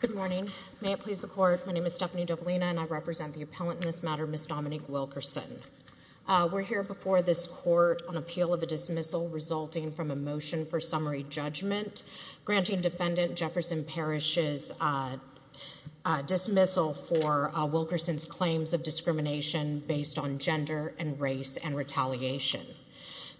Good morning. May it please the court, my name is Stephanie Dovelina and I represent the appellant in this matter, Ms. Dominique Wilkerson. We're here before this court on appeal of a dismissal resulting from a motion for summary judgment granting defendant Jefferson Parish's dismissal for Wilkerson's claims of discrimination based on gender and race and retaliation.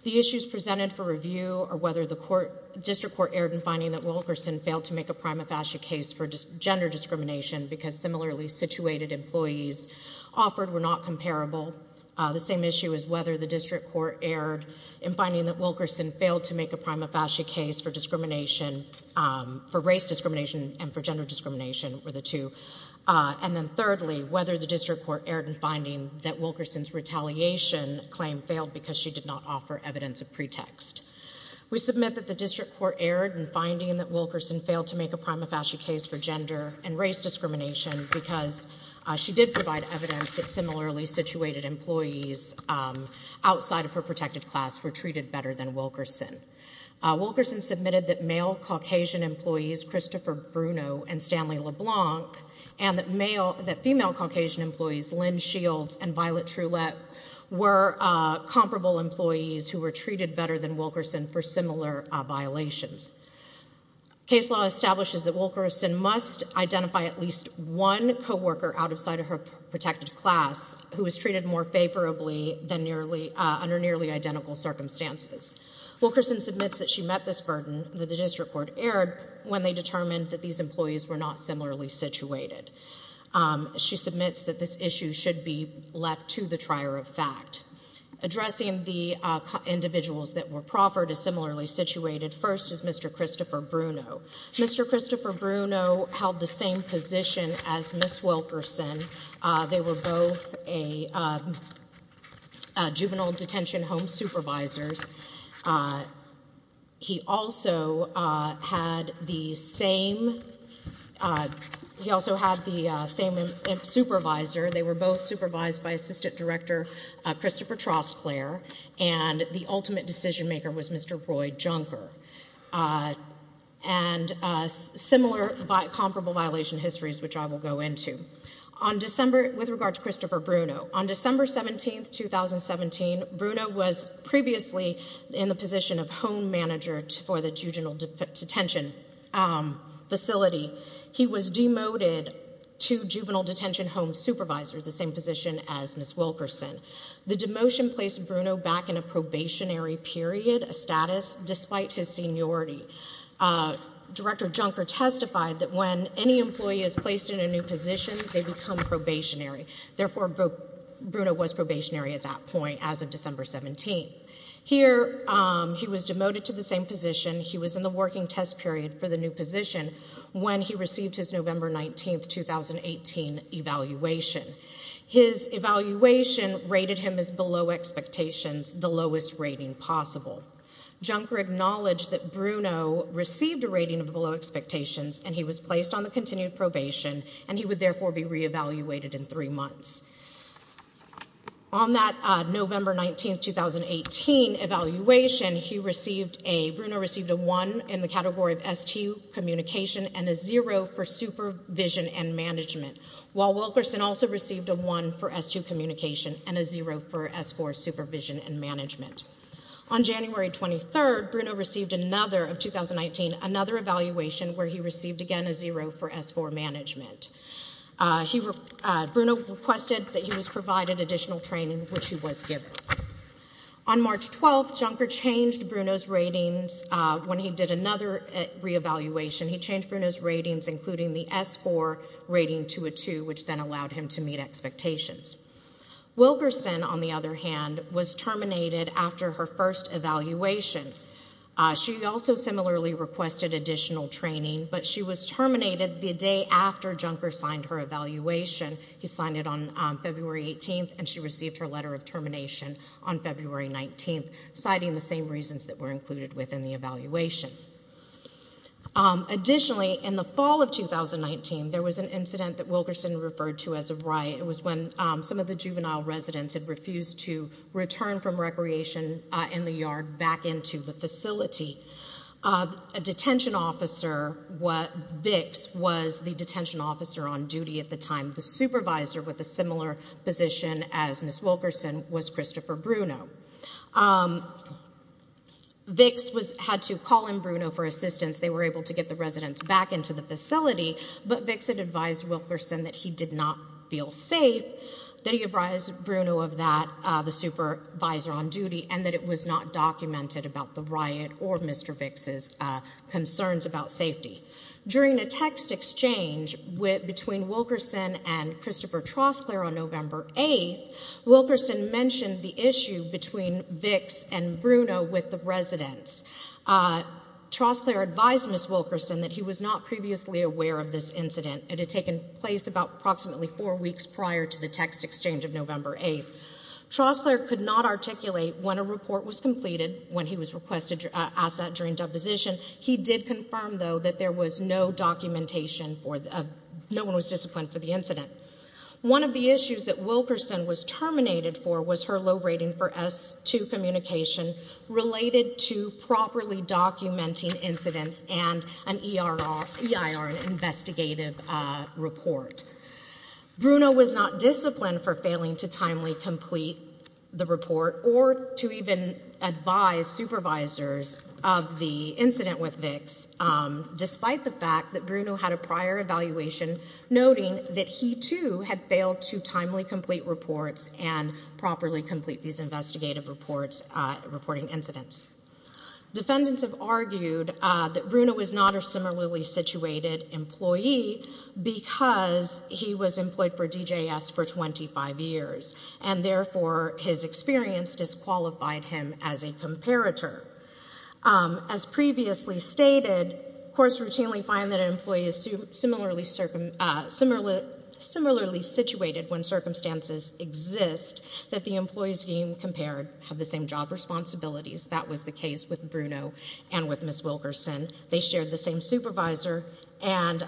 The issues presented for review are whether the court, district court erred in finding that Wilkerson failed to make a prima facie case for gender discrimination because similarly situated employees offered were not comparable. The same issue is whether the district court erred in finding that Wilkerson failed to make a prima facie case for discrimination, for race discrimination and for gender discrimination were the two. And then thirdly, whether the district court erred in finding that Wilkerson's retaliation claim failed because she did not district court erred in finding that Wilkerson failed to make a prima facie case for gender and race discrimination because she did provide evidence that similarly situated employees outside of her protected class were treated better than Wilkerson. Wilkerson submitted that male Caucasian employees, Christopher Bruno and Stanley LeBlanc, and that female Caucasian employees, Lynn Shields and Violet Trulette, were comparable employees who were similar situations. Case law establishes that Wilkerson must identify at least one co-worker outside of her protected class who was treated more favorably under nearly identical circumstances. Wilkerson submits that she met this burden that the district court erred when they determined that these employees were not similarly situated. She submits that this issue should be left to the trier of fact. Addressing the individuals that were proffered as similarly situated, first is Mr. Christopher Bruno. Mr. Christopher Bruno held the same position as Ms. Wilkerson. They were both juvenile detention home supervisors. He also had the same supervisor. They were both supervised by Assistant Director Christopher Trostclair, and the ultimate decision maker was Mr. Roy Junker. And similar but comparable violation histories, which I will go into. On December 17, 2017, Bruno was previously in the position of home manager for the juvenile detention facility. He was demoted to juvenile Bruno back in a probationary period, a status despite his seniority. Director Junker testified that when any employee is placed in a new position, they become probationary. Therefore, Bruno was probationary at that point as of December 17. Here, he was demoted to the same position. He was in the working test period for the new position when he received his expectations, the lowest rating possible. Junker acknowledged that Bruno received a rating of below expectations, and he was placed on the continued probation, and he would therefore be reevaluated in three months. On that November 19, 2018, evaluation, Bruno received a 1 in the category of STU communication and a 0 for supervision and management, while Wilkerson also received a 1 for S2 communication and a 0 for S4 supervision and management. On January 23, Bruno received another of 2019, another evaluation where he received again a 0 for S4 management. Bruno requested that he was provided additional training, which he was given. On March 12, Junker changed Bruno's ratings when he did another reevaluation. He changed Bruno's ratings, including the S4 rating to a 2, which then allowed him to meet expectations. Wilkerson, on the other hand, was terminated after her first evaluation. She also similarly requested additional training, but she was terminated the day after Junker signed her evaluation. He signed it on February 18, and she received her letter of termination on February 19, citing the same reasons that were included within the evaluation. Additionally, in the fall of 2019, there was an incident that Wilkerson referred to as a riot. It was when some of the juvenile residents had refused to return from recreation in the yard back into the facility. A detention officer, Vicks, was the detention officer on duty at the time. The supervisor with a similar position as Ms. Wilkerson was Christopher Bruno. Vicks had to call in Bruno for assistance. They were able to get the residents back into the facility, but Vicks had advised Wilkerson that he did not feel safe, that he advised Bruno of that, the supervisor on duty, and that it was not documented about the riot or Mr. Vicks' concerns about safety. During a text exchange between Wilkerson and Christopher Troskler on November 8, Wilkerson mentioned the issue between Vicks and Bruno with the residents. Troskler advised Ms. Wilkerson that he was not previously aware of this incident. It had taken place about approximately four weeks prior to the text exchange of November 8. Troskler could not articulate when a report was completed, when he was requested to ask that during deposition. He did confirm, though, that there was no documentation, no one was disciplined for the incident. One of the issues that Wilkerson was terminated for was her low rating for S-2 communication related to properly documenting incidents and an EIR investigative report. Bruno was not disciplined for failing to timely complete the report or to even advise supervisors of the incident with Vicks, despite the fact that Bruno had a prior evaluation noting that he, too, had failed to timely complete reports and properly complete these investigative reports, reporting incidents. Defendants have argued that Bruno is not a similarly situated employee because he was 25 years and, therefore, his experience disqualified him as a comparator. As previously stated, courts routinely find that an employee is similarly situated when circumstances exist that the employees being compared have the same job responsibilities. That was the case with Bruno and with Ms. Wilkerson. They shared the same supervisor and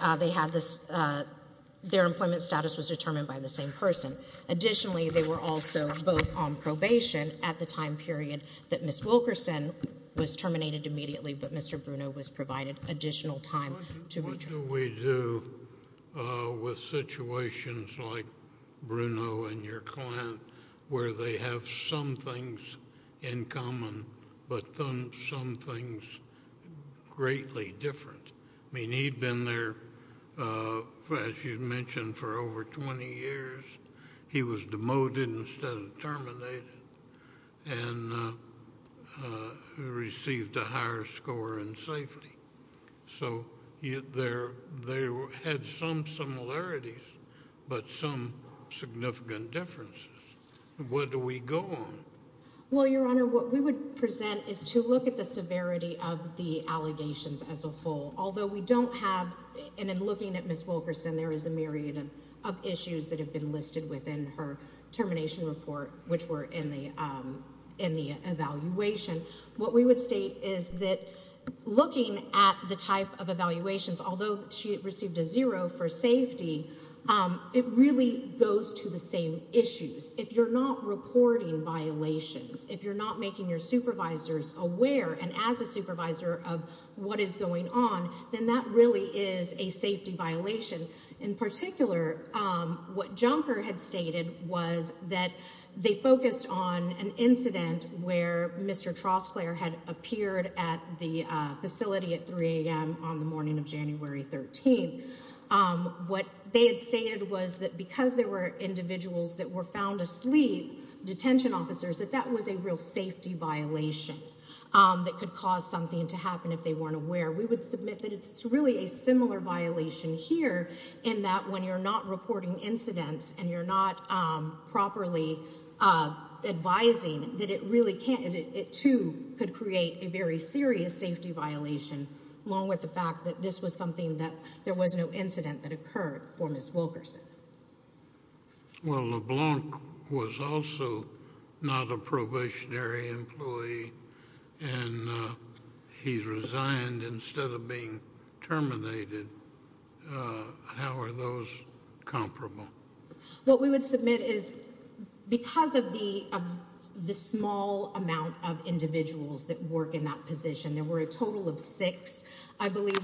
their employment status was determined by the same person. Additionally, they were also both on probation at the time period that Ms. Wilkerson was terminated immediately, but Mr. Bruno was provided additional time to return. What do we do with situations like Bruno and your client where they have some things in common but some things greatly different? I mean, he'd been there, as you mentioned, for over 20 years. He was demoted instead of terminated and received a higher score in safety. So they had some similarities but some significant differences. What do we go on? Well, Your Honor, what we would present is to look at the severity of the allegations as a whole. Although we don't have, and in looking at Ms. Wilkerson, there is a myriad of issues that have been listed within her termination report, which were in the evaluation. What we would state is that looking at the type of evaluations, although she received a zero for safety, it really goes to the same issues. If you're not reporting violations, if you're not making your supervisors aware, and as a supervisor of what is going on, then that really is a safety violation. In particular, what Junker had stated was that they focused on an incident where Mr. Trostler had appeared at the facility at 3 a.m. on the morning of January 13th. What they had stated was that because there were individuals that were found asleep, detention officers, that that was a real safety violation that could cause something to happen if they weren't aware. We would submit that it's really a similar violation here in that when you're not reporting incidents and you're not properly advising that it really can't, it too could create a very serious safety violation along with the fact that this was something that there was no incident that occurred for Ms. Wilkerson. Well, LeBlanc was also not a probationary employee and he resigned instead of being terminated. How are those comparable? What we would submit is because of the small amount of individuals that work in that position, there were a total of six, I believe,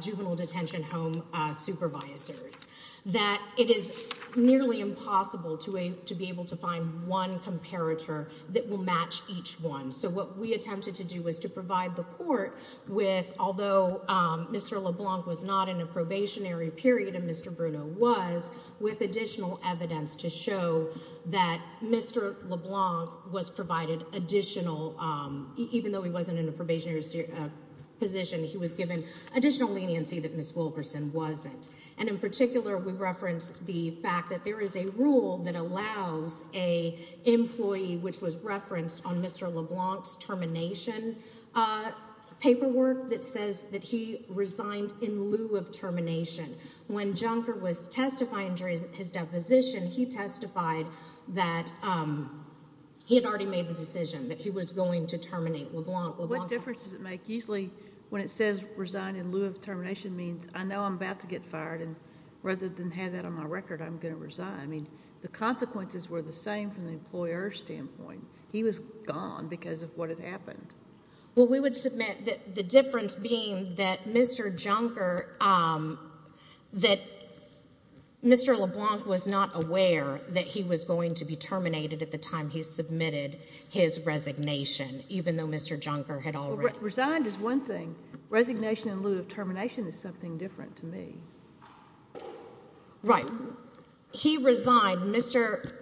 juvenile detention home supervisors, that it is nearly impossible to be able to find one comparator that will match each one. So what we attempted to do was to provide the court with, although Mr. LeBlanc was not in a probationary period and Mr. Bruno was, with additional evidence to show that Mr. LeBlanc was provided additional even though he wasn't in a probationary position, he was given additional leniency that Ms. Wilkerson wasn't. And in particular, we referenced the fact that there is a rule that allows a employee, which was referenced on Mr. LeBlanc's termination paperwork, that says that he resigned in lieu of termination. When Junker was testifying during his deposition, he testified that he had already made the decision that he was going to terminate LeBlanc. What difference does it make? Usually when it says resign in lieu of termination means I know I'm about to get fired and rather than have that on my record, I'm going to resign. The consequences were the same from the employer's standpoint. He was gone because of what had happened. We would submit that the difference being that Mr. LeBlanc was not aware that he was going to be terminated at the time he submitted his resignation, even though Mr. Junker had already... Resigned is one thing. Resignation in lieu of termination is something different to me. Right. He resigned, Mr.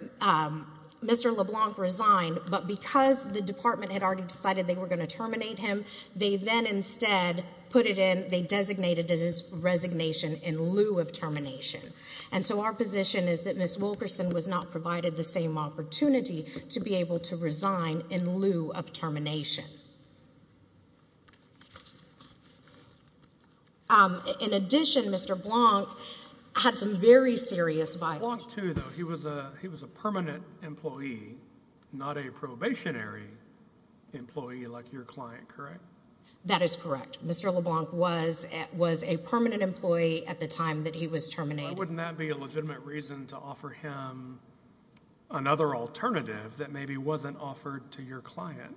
LeBlanc resigned, but because the department had already decided they were going to terminate him, they then instead put it in, they designated it as his termination and provided the same opportunity to be able to resign in lieu of termination. In addition, Mr. LeBlanc had some very serious violations. LeBlanc too, though. He was a permanent employee, not a probationary employee like your client, correct? That is correct. Mr. LeBlanc was a permanent employee at the time that he was terminated. Why wouldn't that be a legitimate reason to offer him another alternative that maybe wasn't offered to your client?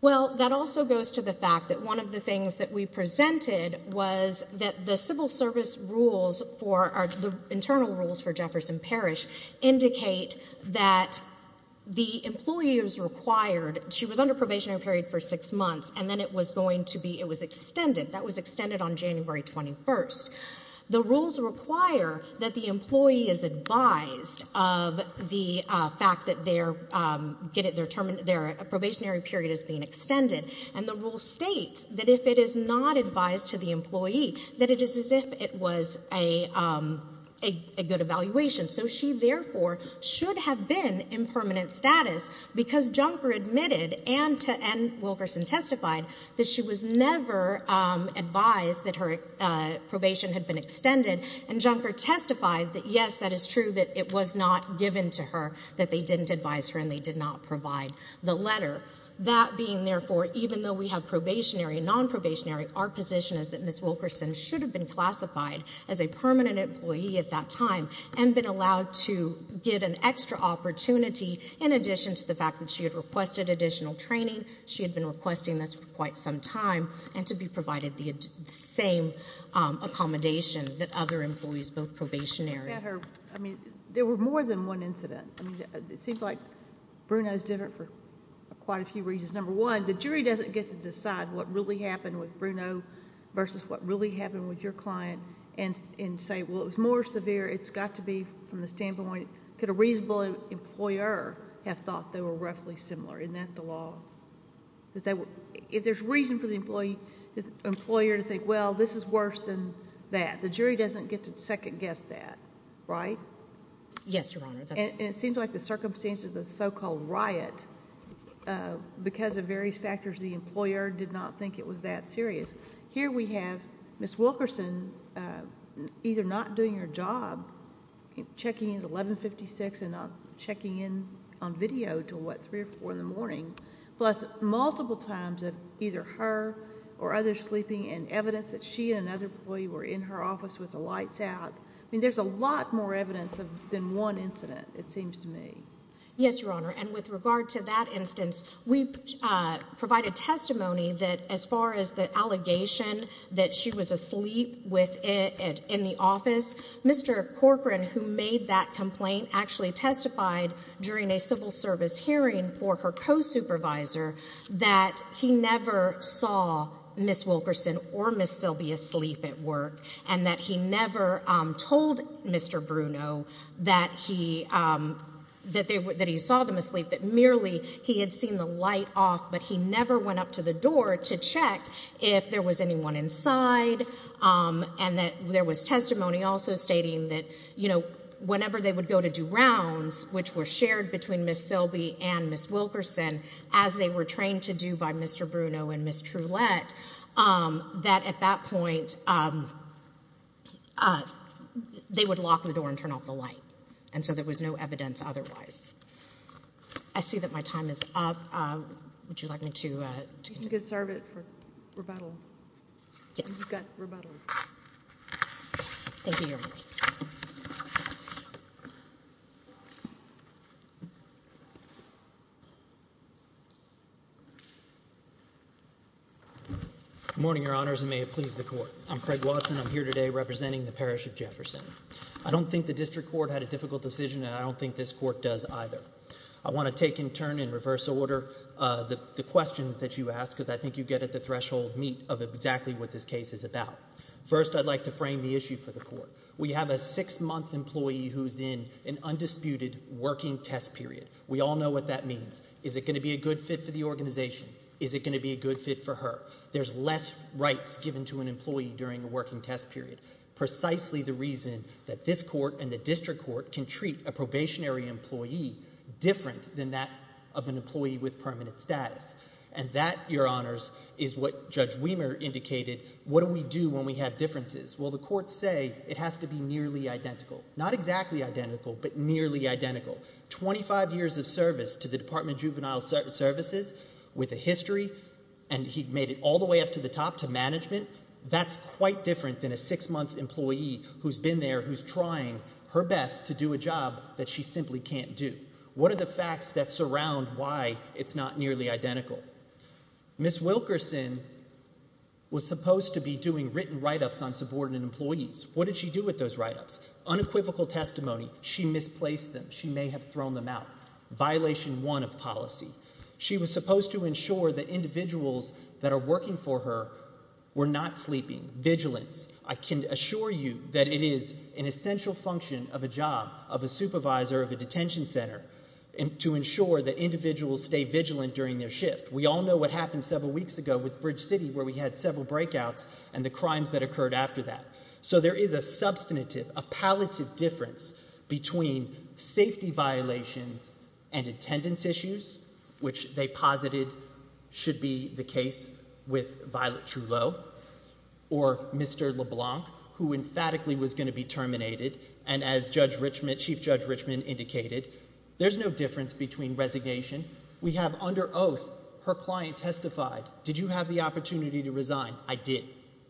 Well, that also goes to the fact that one of the things that we presented was that the civil service rules for, the internal rules for Jefferson Parish, indicate that the employee was required, she was under probationary period for six months, and then it was going to be, it was extended. That was extended on January 21st. The rules require that the employee is advised of the fact that their probationary period is being extended. And the rule states that if it is not advised to the employee, that it is as if it was a good evaluation. So she therefore should have been in permanent status because Junker admitted and Wilkerson testified that she was never advised that her probation had been extended. And Junker testified that, yes, that is true, that it was not given to her, that they didn't advise her and they did not provide the letter. That being, therefore, even though we have probationary and non-probationary, our position is that Ms. Wilkerson should have been classified as a permanent employee at that time and been allowed to get an extra opportunity in addition to the fact that she had requested additional training. She had been requesting this for quite some time and to be provided the same accommodation that other employees, both probationary. There were more than one incident. It seems like Bruno is different for quite a few reasons. Number one, the jury does not get to decide what really happened with Bruno versus what really happened with your client and say, well, it was more severe. It has got to be from the standpoint, could a reasonable employer have thought they were roughly similar? Isn't that the law? If there is reason for the employer to think, well, this is worse than that, the jury doesn't get to second guess that, right? Yes, Your Honor. And it seems like the circumstances of the so-called riot because of various factors, the employer did not think it was that serious. Here we have Ms. Wilkerson either not doing her job, checking in at 1156 and not checking in on video until, what, 3 or 4 in the morning, plus multiple times of either her or others sleeping and evidence that she and another employee were in her office with the lights out. I mean, there is a lot more evidence than one incident, it seems to me. Yes, Your Honor, and with regard to that instance, we provide a testimony that as far as the office, Mr. Corcoran, who made that complaint, actually testified during a civil service hearing for her co-supervisor that he never saw Ms. Wilkerson or Ms. Sylvia sleep at work and that he never told Mr. Bruno that he saw them asleep, that merely he had seen the light off, but he never went up to the door to check if there was anyone inside and that there was testimony also stating that, you know, whenever they would go to do rounds, which were shared between Ms. Sylvia and Ms. Wilkerson, as they were trained to do by Mr. Bruno and Ms. Trulette, that at that point they would lock the door and turn off the light and so there was no evidence otherwise. I see that my time is up. Would you like me to continue? You could serve it for rebuttal. Thank you, Your Honor. Good morning, Your Honors, and may it please the Court. I'm Craig Watson. I'm here today representing the Parish of Jefferson. I don't think the District Court had a difficult decision and I don't think this Court does either. I want to take in turn, in reverse order, the questions that you asked because I think you get at the threshold meet of exactly what this case is about. First, I'd like to frame the issue for the Court. We have a six-month employee who's in an undisputed working test period. We all know what that means. Is it going to be a good fit for the organization? Is it going to be a good fit for her? There's less rights given to an employee during a working test period. Precisely the reason that this Court and the District Court can treat a probationary employee different than that of an employee with permanent status. And that, Your Honors, is what Judge Wehmer indicated. What do we do when we have differences? Well, the Courts say it has to be nearly identical. Not exactly identical, but nearly identical. Twenty-five years of service to the Department of Juvenile Services with a history, and he made it all the way up to the top to management, that's quite different than a six-month employee who's been there, who's trying her best to do a job that she simply can't do. What are the facts that surround why it's not nearly identical? Ms. Wilkerson was supposed to be doing written write-ups on subordinate employees. What did she do with those write-ups? Unequivocal testimony. She misplaced them. She may have thrown them out. Violation one of policy. She was supposed to ensure that individuals that are working for her were not sleeping. Vigilance. I can assure you that it is an assignment of a supervisor of a detention center to ensure that individuals stay vigilant during their shift. We all know what happened several weeks ago with Bridge City, where we had several breakouts and the crimes that occurred after that. So there is a substantive, a palliative difference between safety violations and attendance issues, which they posited should be the case with Violet Trullo, or Mr. LeBlanc, who emphatically was going to be terminated. And as Chief Judge Richmond indicated, there's no difference between resignation. We have under oath her client testified, did you have the opportunity to resign? I did.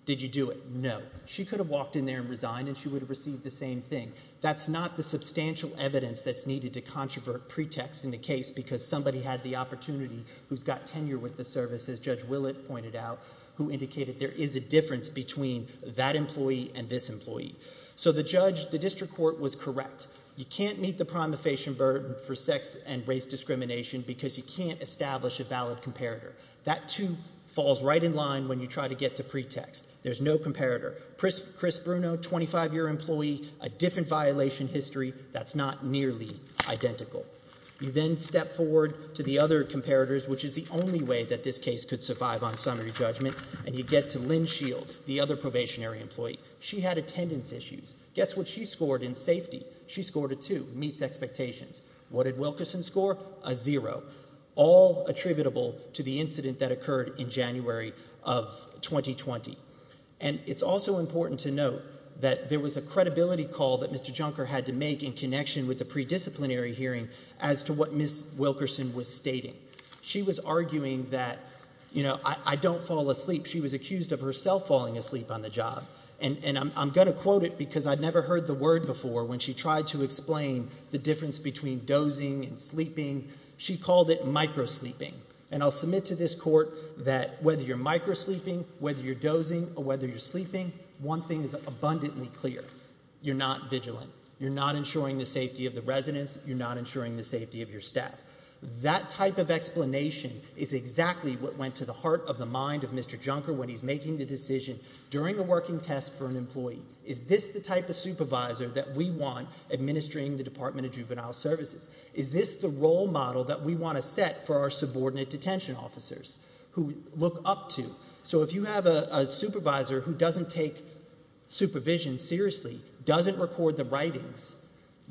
Did you do it? No. She could have walked in there and resigned, and she would have received the same thing. That's not the substantial evidence that's needed to controvert pretext in the case, because somebody had the opportunity who's got tenure with the service, as Judge Willett pointed out, who indicated there is a difference between that employee and this So the judge, the district court, was correct. You can't meet the prima facie burden for sex and race discrimination because you can't establish a valid comparator. That, too, falls right in line when you try to get to pretext. There's no comparator. Chris Bruno, 25-year employee, a different violation history, that's not nearly identical. You then step forward to the other comparators, which is the only way that this case could survive on summary judgment, and you get to Lynn Shields, the other probationary employee. She had attendance issues. Guess what she scored in safety? She scored a 2, meets expectations. What did Wilkerson score? A 0, all attributable to the incident that occurred in January of 2020. And it's also important to note that there was a credibility call that Mr. Junker had to make in connection with the predisciplinary hearing as to what Ms. Wilkerson was stating. She was arguing that, you know, I don't fall asleep. She was accused of herself falling asleep on the job. And I'm going to quote it because I'd never heard the word before when she tried to explain the difference between dozing and sleeping. She called it micro-sleeping. And I'll submit to this Court that whether you're micro-sleeping, whether you're dozing or whether you're sleeping, one thing is abundantly clear. You're not vigilant. You're not ensuring the safety of the residents. You're not ensuring the safety of your staff. That type of explanation is exactly what went to the heart of the mind of Mr. Junker when he's making the decision during a working test for an employee. Is this the type of supervisor that we want administering the Department of Juvenile Services? Is this the role model that we want to set for our subordinate detention officers who we look up to? So if you have a supervisor who doesn't take supervision seriously, doesn't record the writings,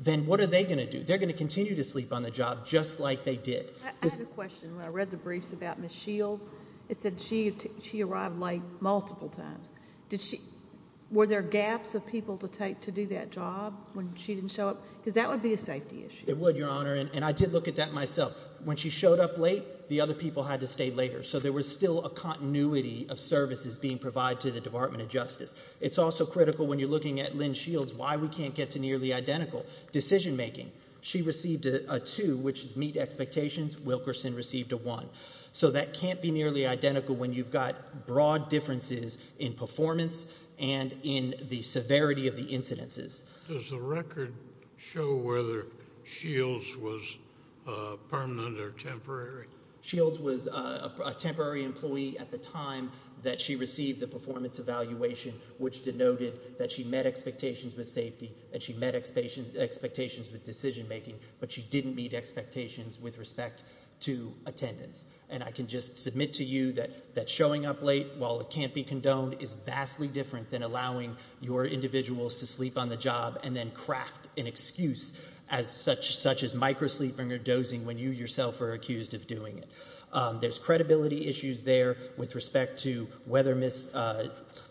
then what are they going to do? They're going to continue to sleep on the job just like they did. I have a question. When I read the briefs about Ms. Shields, it said she arrived late multiple times. Were there gaps of people to do that job when she didn't show up? Because that would be a safety issue. It would, Your Honor. And I did look at that myself. When she showed up late, the other people had to stay later. So there was still a continuity of services being provided to the Department of Justice. It's also critical when you're looking at Lynn Shields why we Wilkerson received a one. So that can't be nearly identical when you've got broad differences in performance and in the severity of the incidences. Does the record show whether Shields was permanent or temporary? Shields was a temporary employee at the time that she received the performance evaluation, which denoted that she met expectations with safety and she met expectations with decision making, but she didn't meet expectations with respect to attendance. And I can just submit to you that showing up late while it can't be condoned is vastly different than allowing your individuals to sleep on the job and then craft an excuse such as microsleeping or dozing when you yourself are accused of doing it. There's credibility issues there with respect to whether Ms.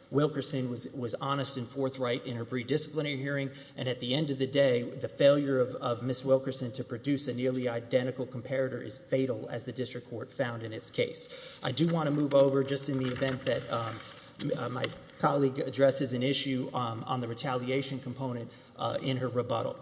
Wilkerson was honest and forthright in her predisciplinary hearing, and at the end of the day, the failure of Ms. Wilkerson to produce a nearly identical comparator is fatal as the district court found in its case. I do want to move over just in the event that my colleague addresses an issue on the retaliation component in her rebuttal.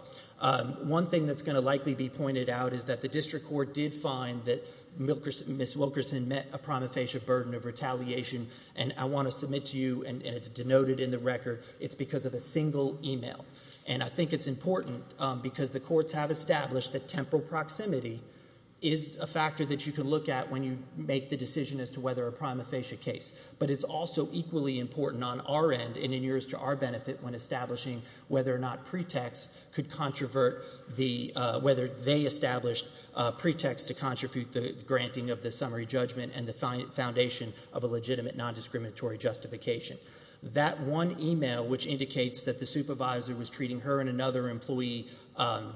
One thing that's going to likely be pointed out is that the district court did find that Ms. Wilkerson met a prima facie burden of retaliation, and I want to submit to you, and it's denoted in the record, it's because of a single email. And I think it's important because the courts have established that temporal proximity is a factor that you can look at when you make the decision as to whether a prima facie case. But it's also equally important on our end and in years to our benefit when establishing whether or not pretexts could controvert the, whether they established pretexts to contribute the granting of the summary judgment and the foundation of a legitimate nondiscriminatory justification. That one email, which indicates that the supervisor was treating her and another employee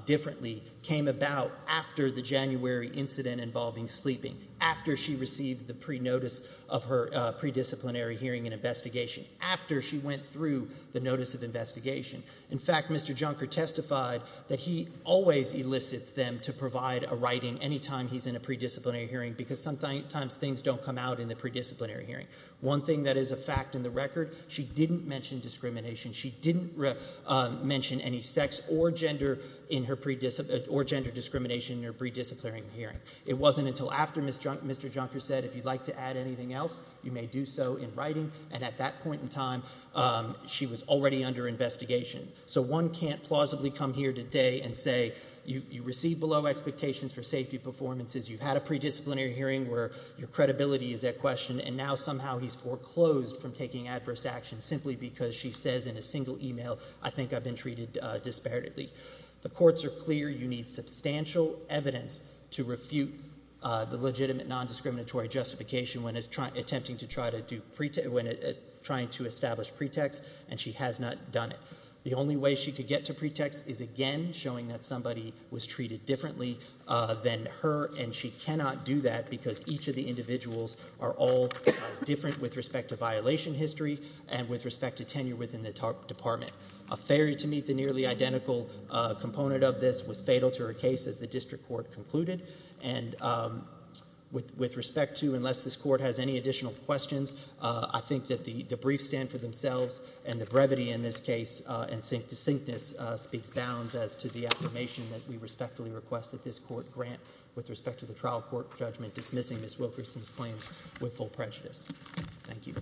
differently, came about after the January incident involving sleeping, after she received the pre-notice of her predisciplinary hearing and investigation, after she went through the notice of investigation. In fact, Mr. Junker testified that he always elicits them to provide a writing any time he's in a pre-disciplinary hearing because sometimes things don't come out in the pre-disciplinary hearing. One thing that is a fact in the record, she didn't mention discrimination. She didn't mention any sex or gender in her, or gender discrimination in her pre-disciplinary hearing. It wasn't until after Mr. Junker said if you'd like to add anything else, you may do so in writing. And at that point in time, she was already under investigation. So one can't plausibly come here today and say you received below expectations for safety performances, you've had a pre-disciplinary hearing where your credibility is at question, and now somehow he's foreclosed from taking adverse action simply because she says in a single email, I think I've been treated disparately. The courts are clear you need substantial evidence to refute the legitimate nondiscriminatory justification when attempting to try to establish pretext, and she has not done it. The only way she could get to pretext is, again, showing that somebody was treated differently than her, and she cannot do that because each of the individuals are all different with respect to violation history and with respect to tenure within the department. A failure to meet the nearly identical component of this was fatal to her case, as the district court concluded. And with respect to unless this court has any additional questions, I think that the brief stand for themselves and the brevity in this case and succinctness speaks bounds as to the affirmation that we respectfully request that this court grant with respect to the trial court judgment dismissing Ms. Wilkerson's claims with full prejudice. Thank you.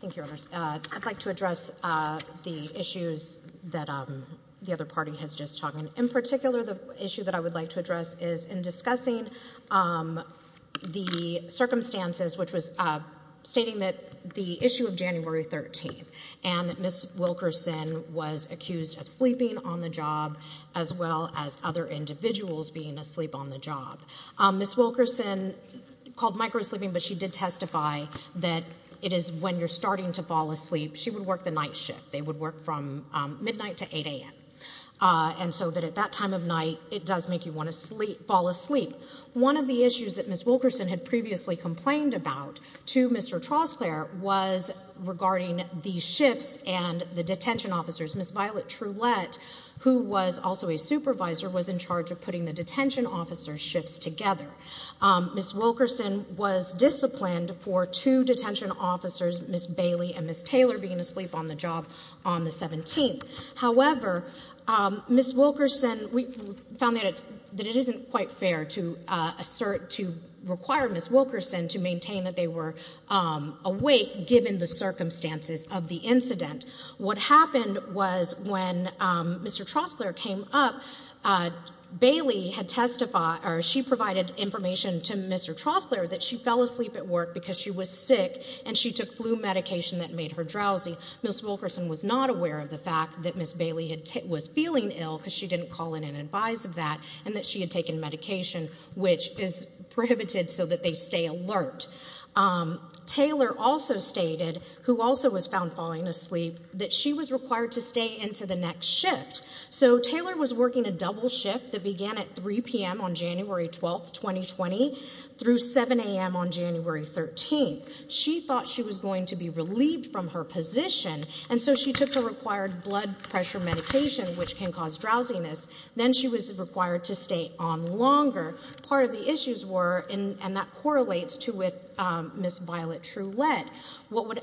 Thank you, Your Honors. I'd like to address the issues that the other party has just talked about. In particular, the issue that I would like to address is in discussing the circumstances, which was stating that the issue of January 13th and that Ms. Wilkerson was accused of sleeping on the job as well as other individuals being asleep on the job. Ms. Wilkerson called microsleeping, but she did testify that it is when you're starting to fall asleep, she would work the night shift. They would work from midnight to 8 a.m. And so that at that time of night, it does make you want to fall asleep. One of the issues that Ms. Wilkerson had previously complained about to Mr. Troskler was regarding the shifts and the detention officers. Ms. Violet Trulette, who was also a supervisor, was in charge of putting the was disciplined for two detention officers, Ms. Bailey and Ms. Taylor, being asleep on the job on the 17th. However, Ms. Wilkerson, we found that it isn't quite fair to assert, to require Ms. Wilkerson to maintain that they were awake given the circumstances of the incident. What happened was when Mr. Troskler came up, Bailey had testified, or she provided information to Mr. Troskler that she fell asleep at work because she was sick and she took flu medication that made her drowsy. Ms. Wilkerson was not aware of the fact that Ms. Bailey was feeling ill because she didn't call in and advise of that and that she had taken medication, which is prohibited so that they stay alert. Taylor also stated, who also was found falling asleep, that she was required to stay into the next shift. So Taylor was through 7 a.m. on January 13th. She thought she was going to be relieved from her position and so she took the required blood pressure medication, which can cause drowsiness. Then she was required to stay on longer. Part of the issues were, and that correlates to with Ms. Violet Trulette,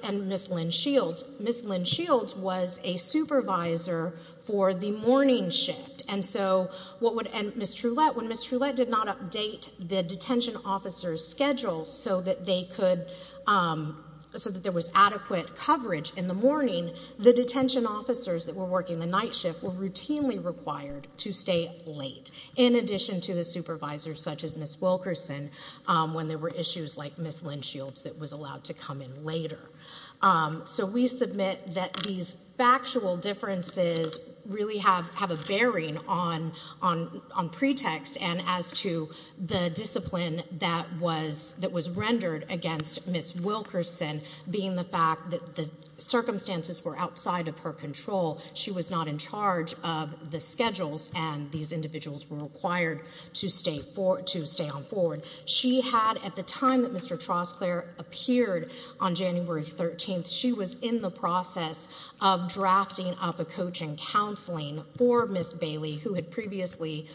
and Ms. Lynn Shields. Ms. Lynn Shields was a supervisor for the morning shift and so what would, and Ms. Trulette, when Ms. Trulette did not update the detention officer's schedule so that they could, so that there was adequate coverage in the morning, the detention officers that were working the night shift were routinely required to stay late, in addition to the supervisors such as Ms. Wilkerson when there were issues like Ms. Lynn Shields that was allowed to come in later. So we submit that these factual differences really have a bearing on pretext and as to the discipline that was rendered against Ms. Wilkerson being the fact that the circumstances were outside of her control. She was not in charge of the schedules and these individuals were required to stay on forward. She had, at the time that Mr. Trostclair appeared on January 13th, she was in the process of drafting up a coaching counseling for Ms. Bailey who had previously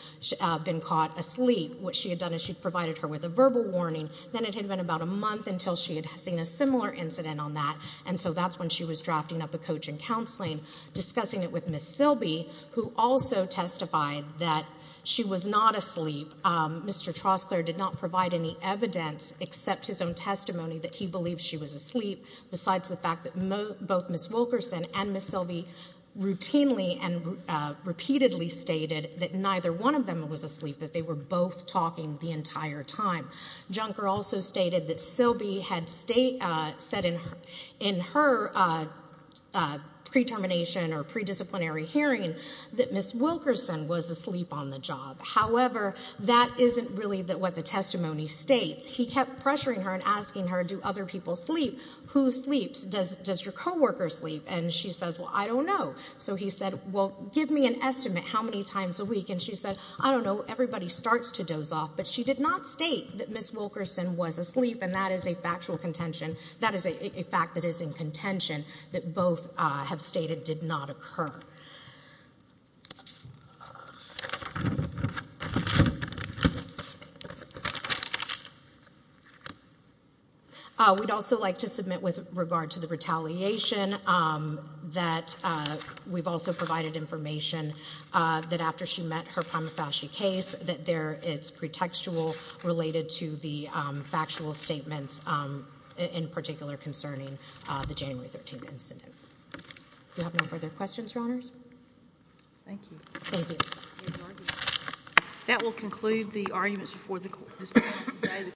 been caught asleep. What she had done is she provided her with a verbal warning, then it had been about a month until she had seen a similar incident on that, and so that's when she was drafting up a coaching counseling, discussing it with Ms. Silby who also testified that she was not asleep. Mr. Trostclair did not provide any evidence except his own testimony that he believed she was asleep besides the fact that both Ms. Wilkerson and Ms. Silby routinely and repeatedly stated that neither one of them was asleep, that they were both talking the entire time. Junker also stated that Silby had said in her pre-termination or pre-disciplinary hearing that Ms. Wilkerson was asleep on the job. However, that isn't really what the testimony states. He kept pressuring her and asking her, do other people sleep? Who sleeps? Does your co-worker sleep? And she says, well, I don't know. So he said, well, give me an estimate how many times a week. And she said, I don't know. Everybody starts to doze off. But she did not state that Ms. Wilkerson was asleep, and that is a factual contention. That is a fact that is in contention that both have stated did not occur. We'd also like to submit with regard to the retaliation that we've also provided information that after she met her prima facie case that it's pretextual related to the factual statements in particular concerning the January 13th incident. Do we have no further questions, Your Honors? Thank you. Thank you. That will conclude the arguments before the court.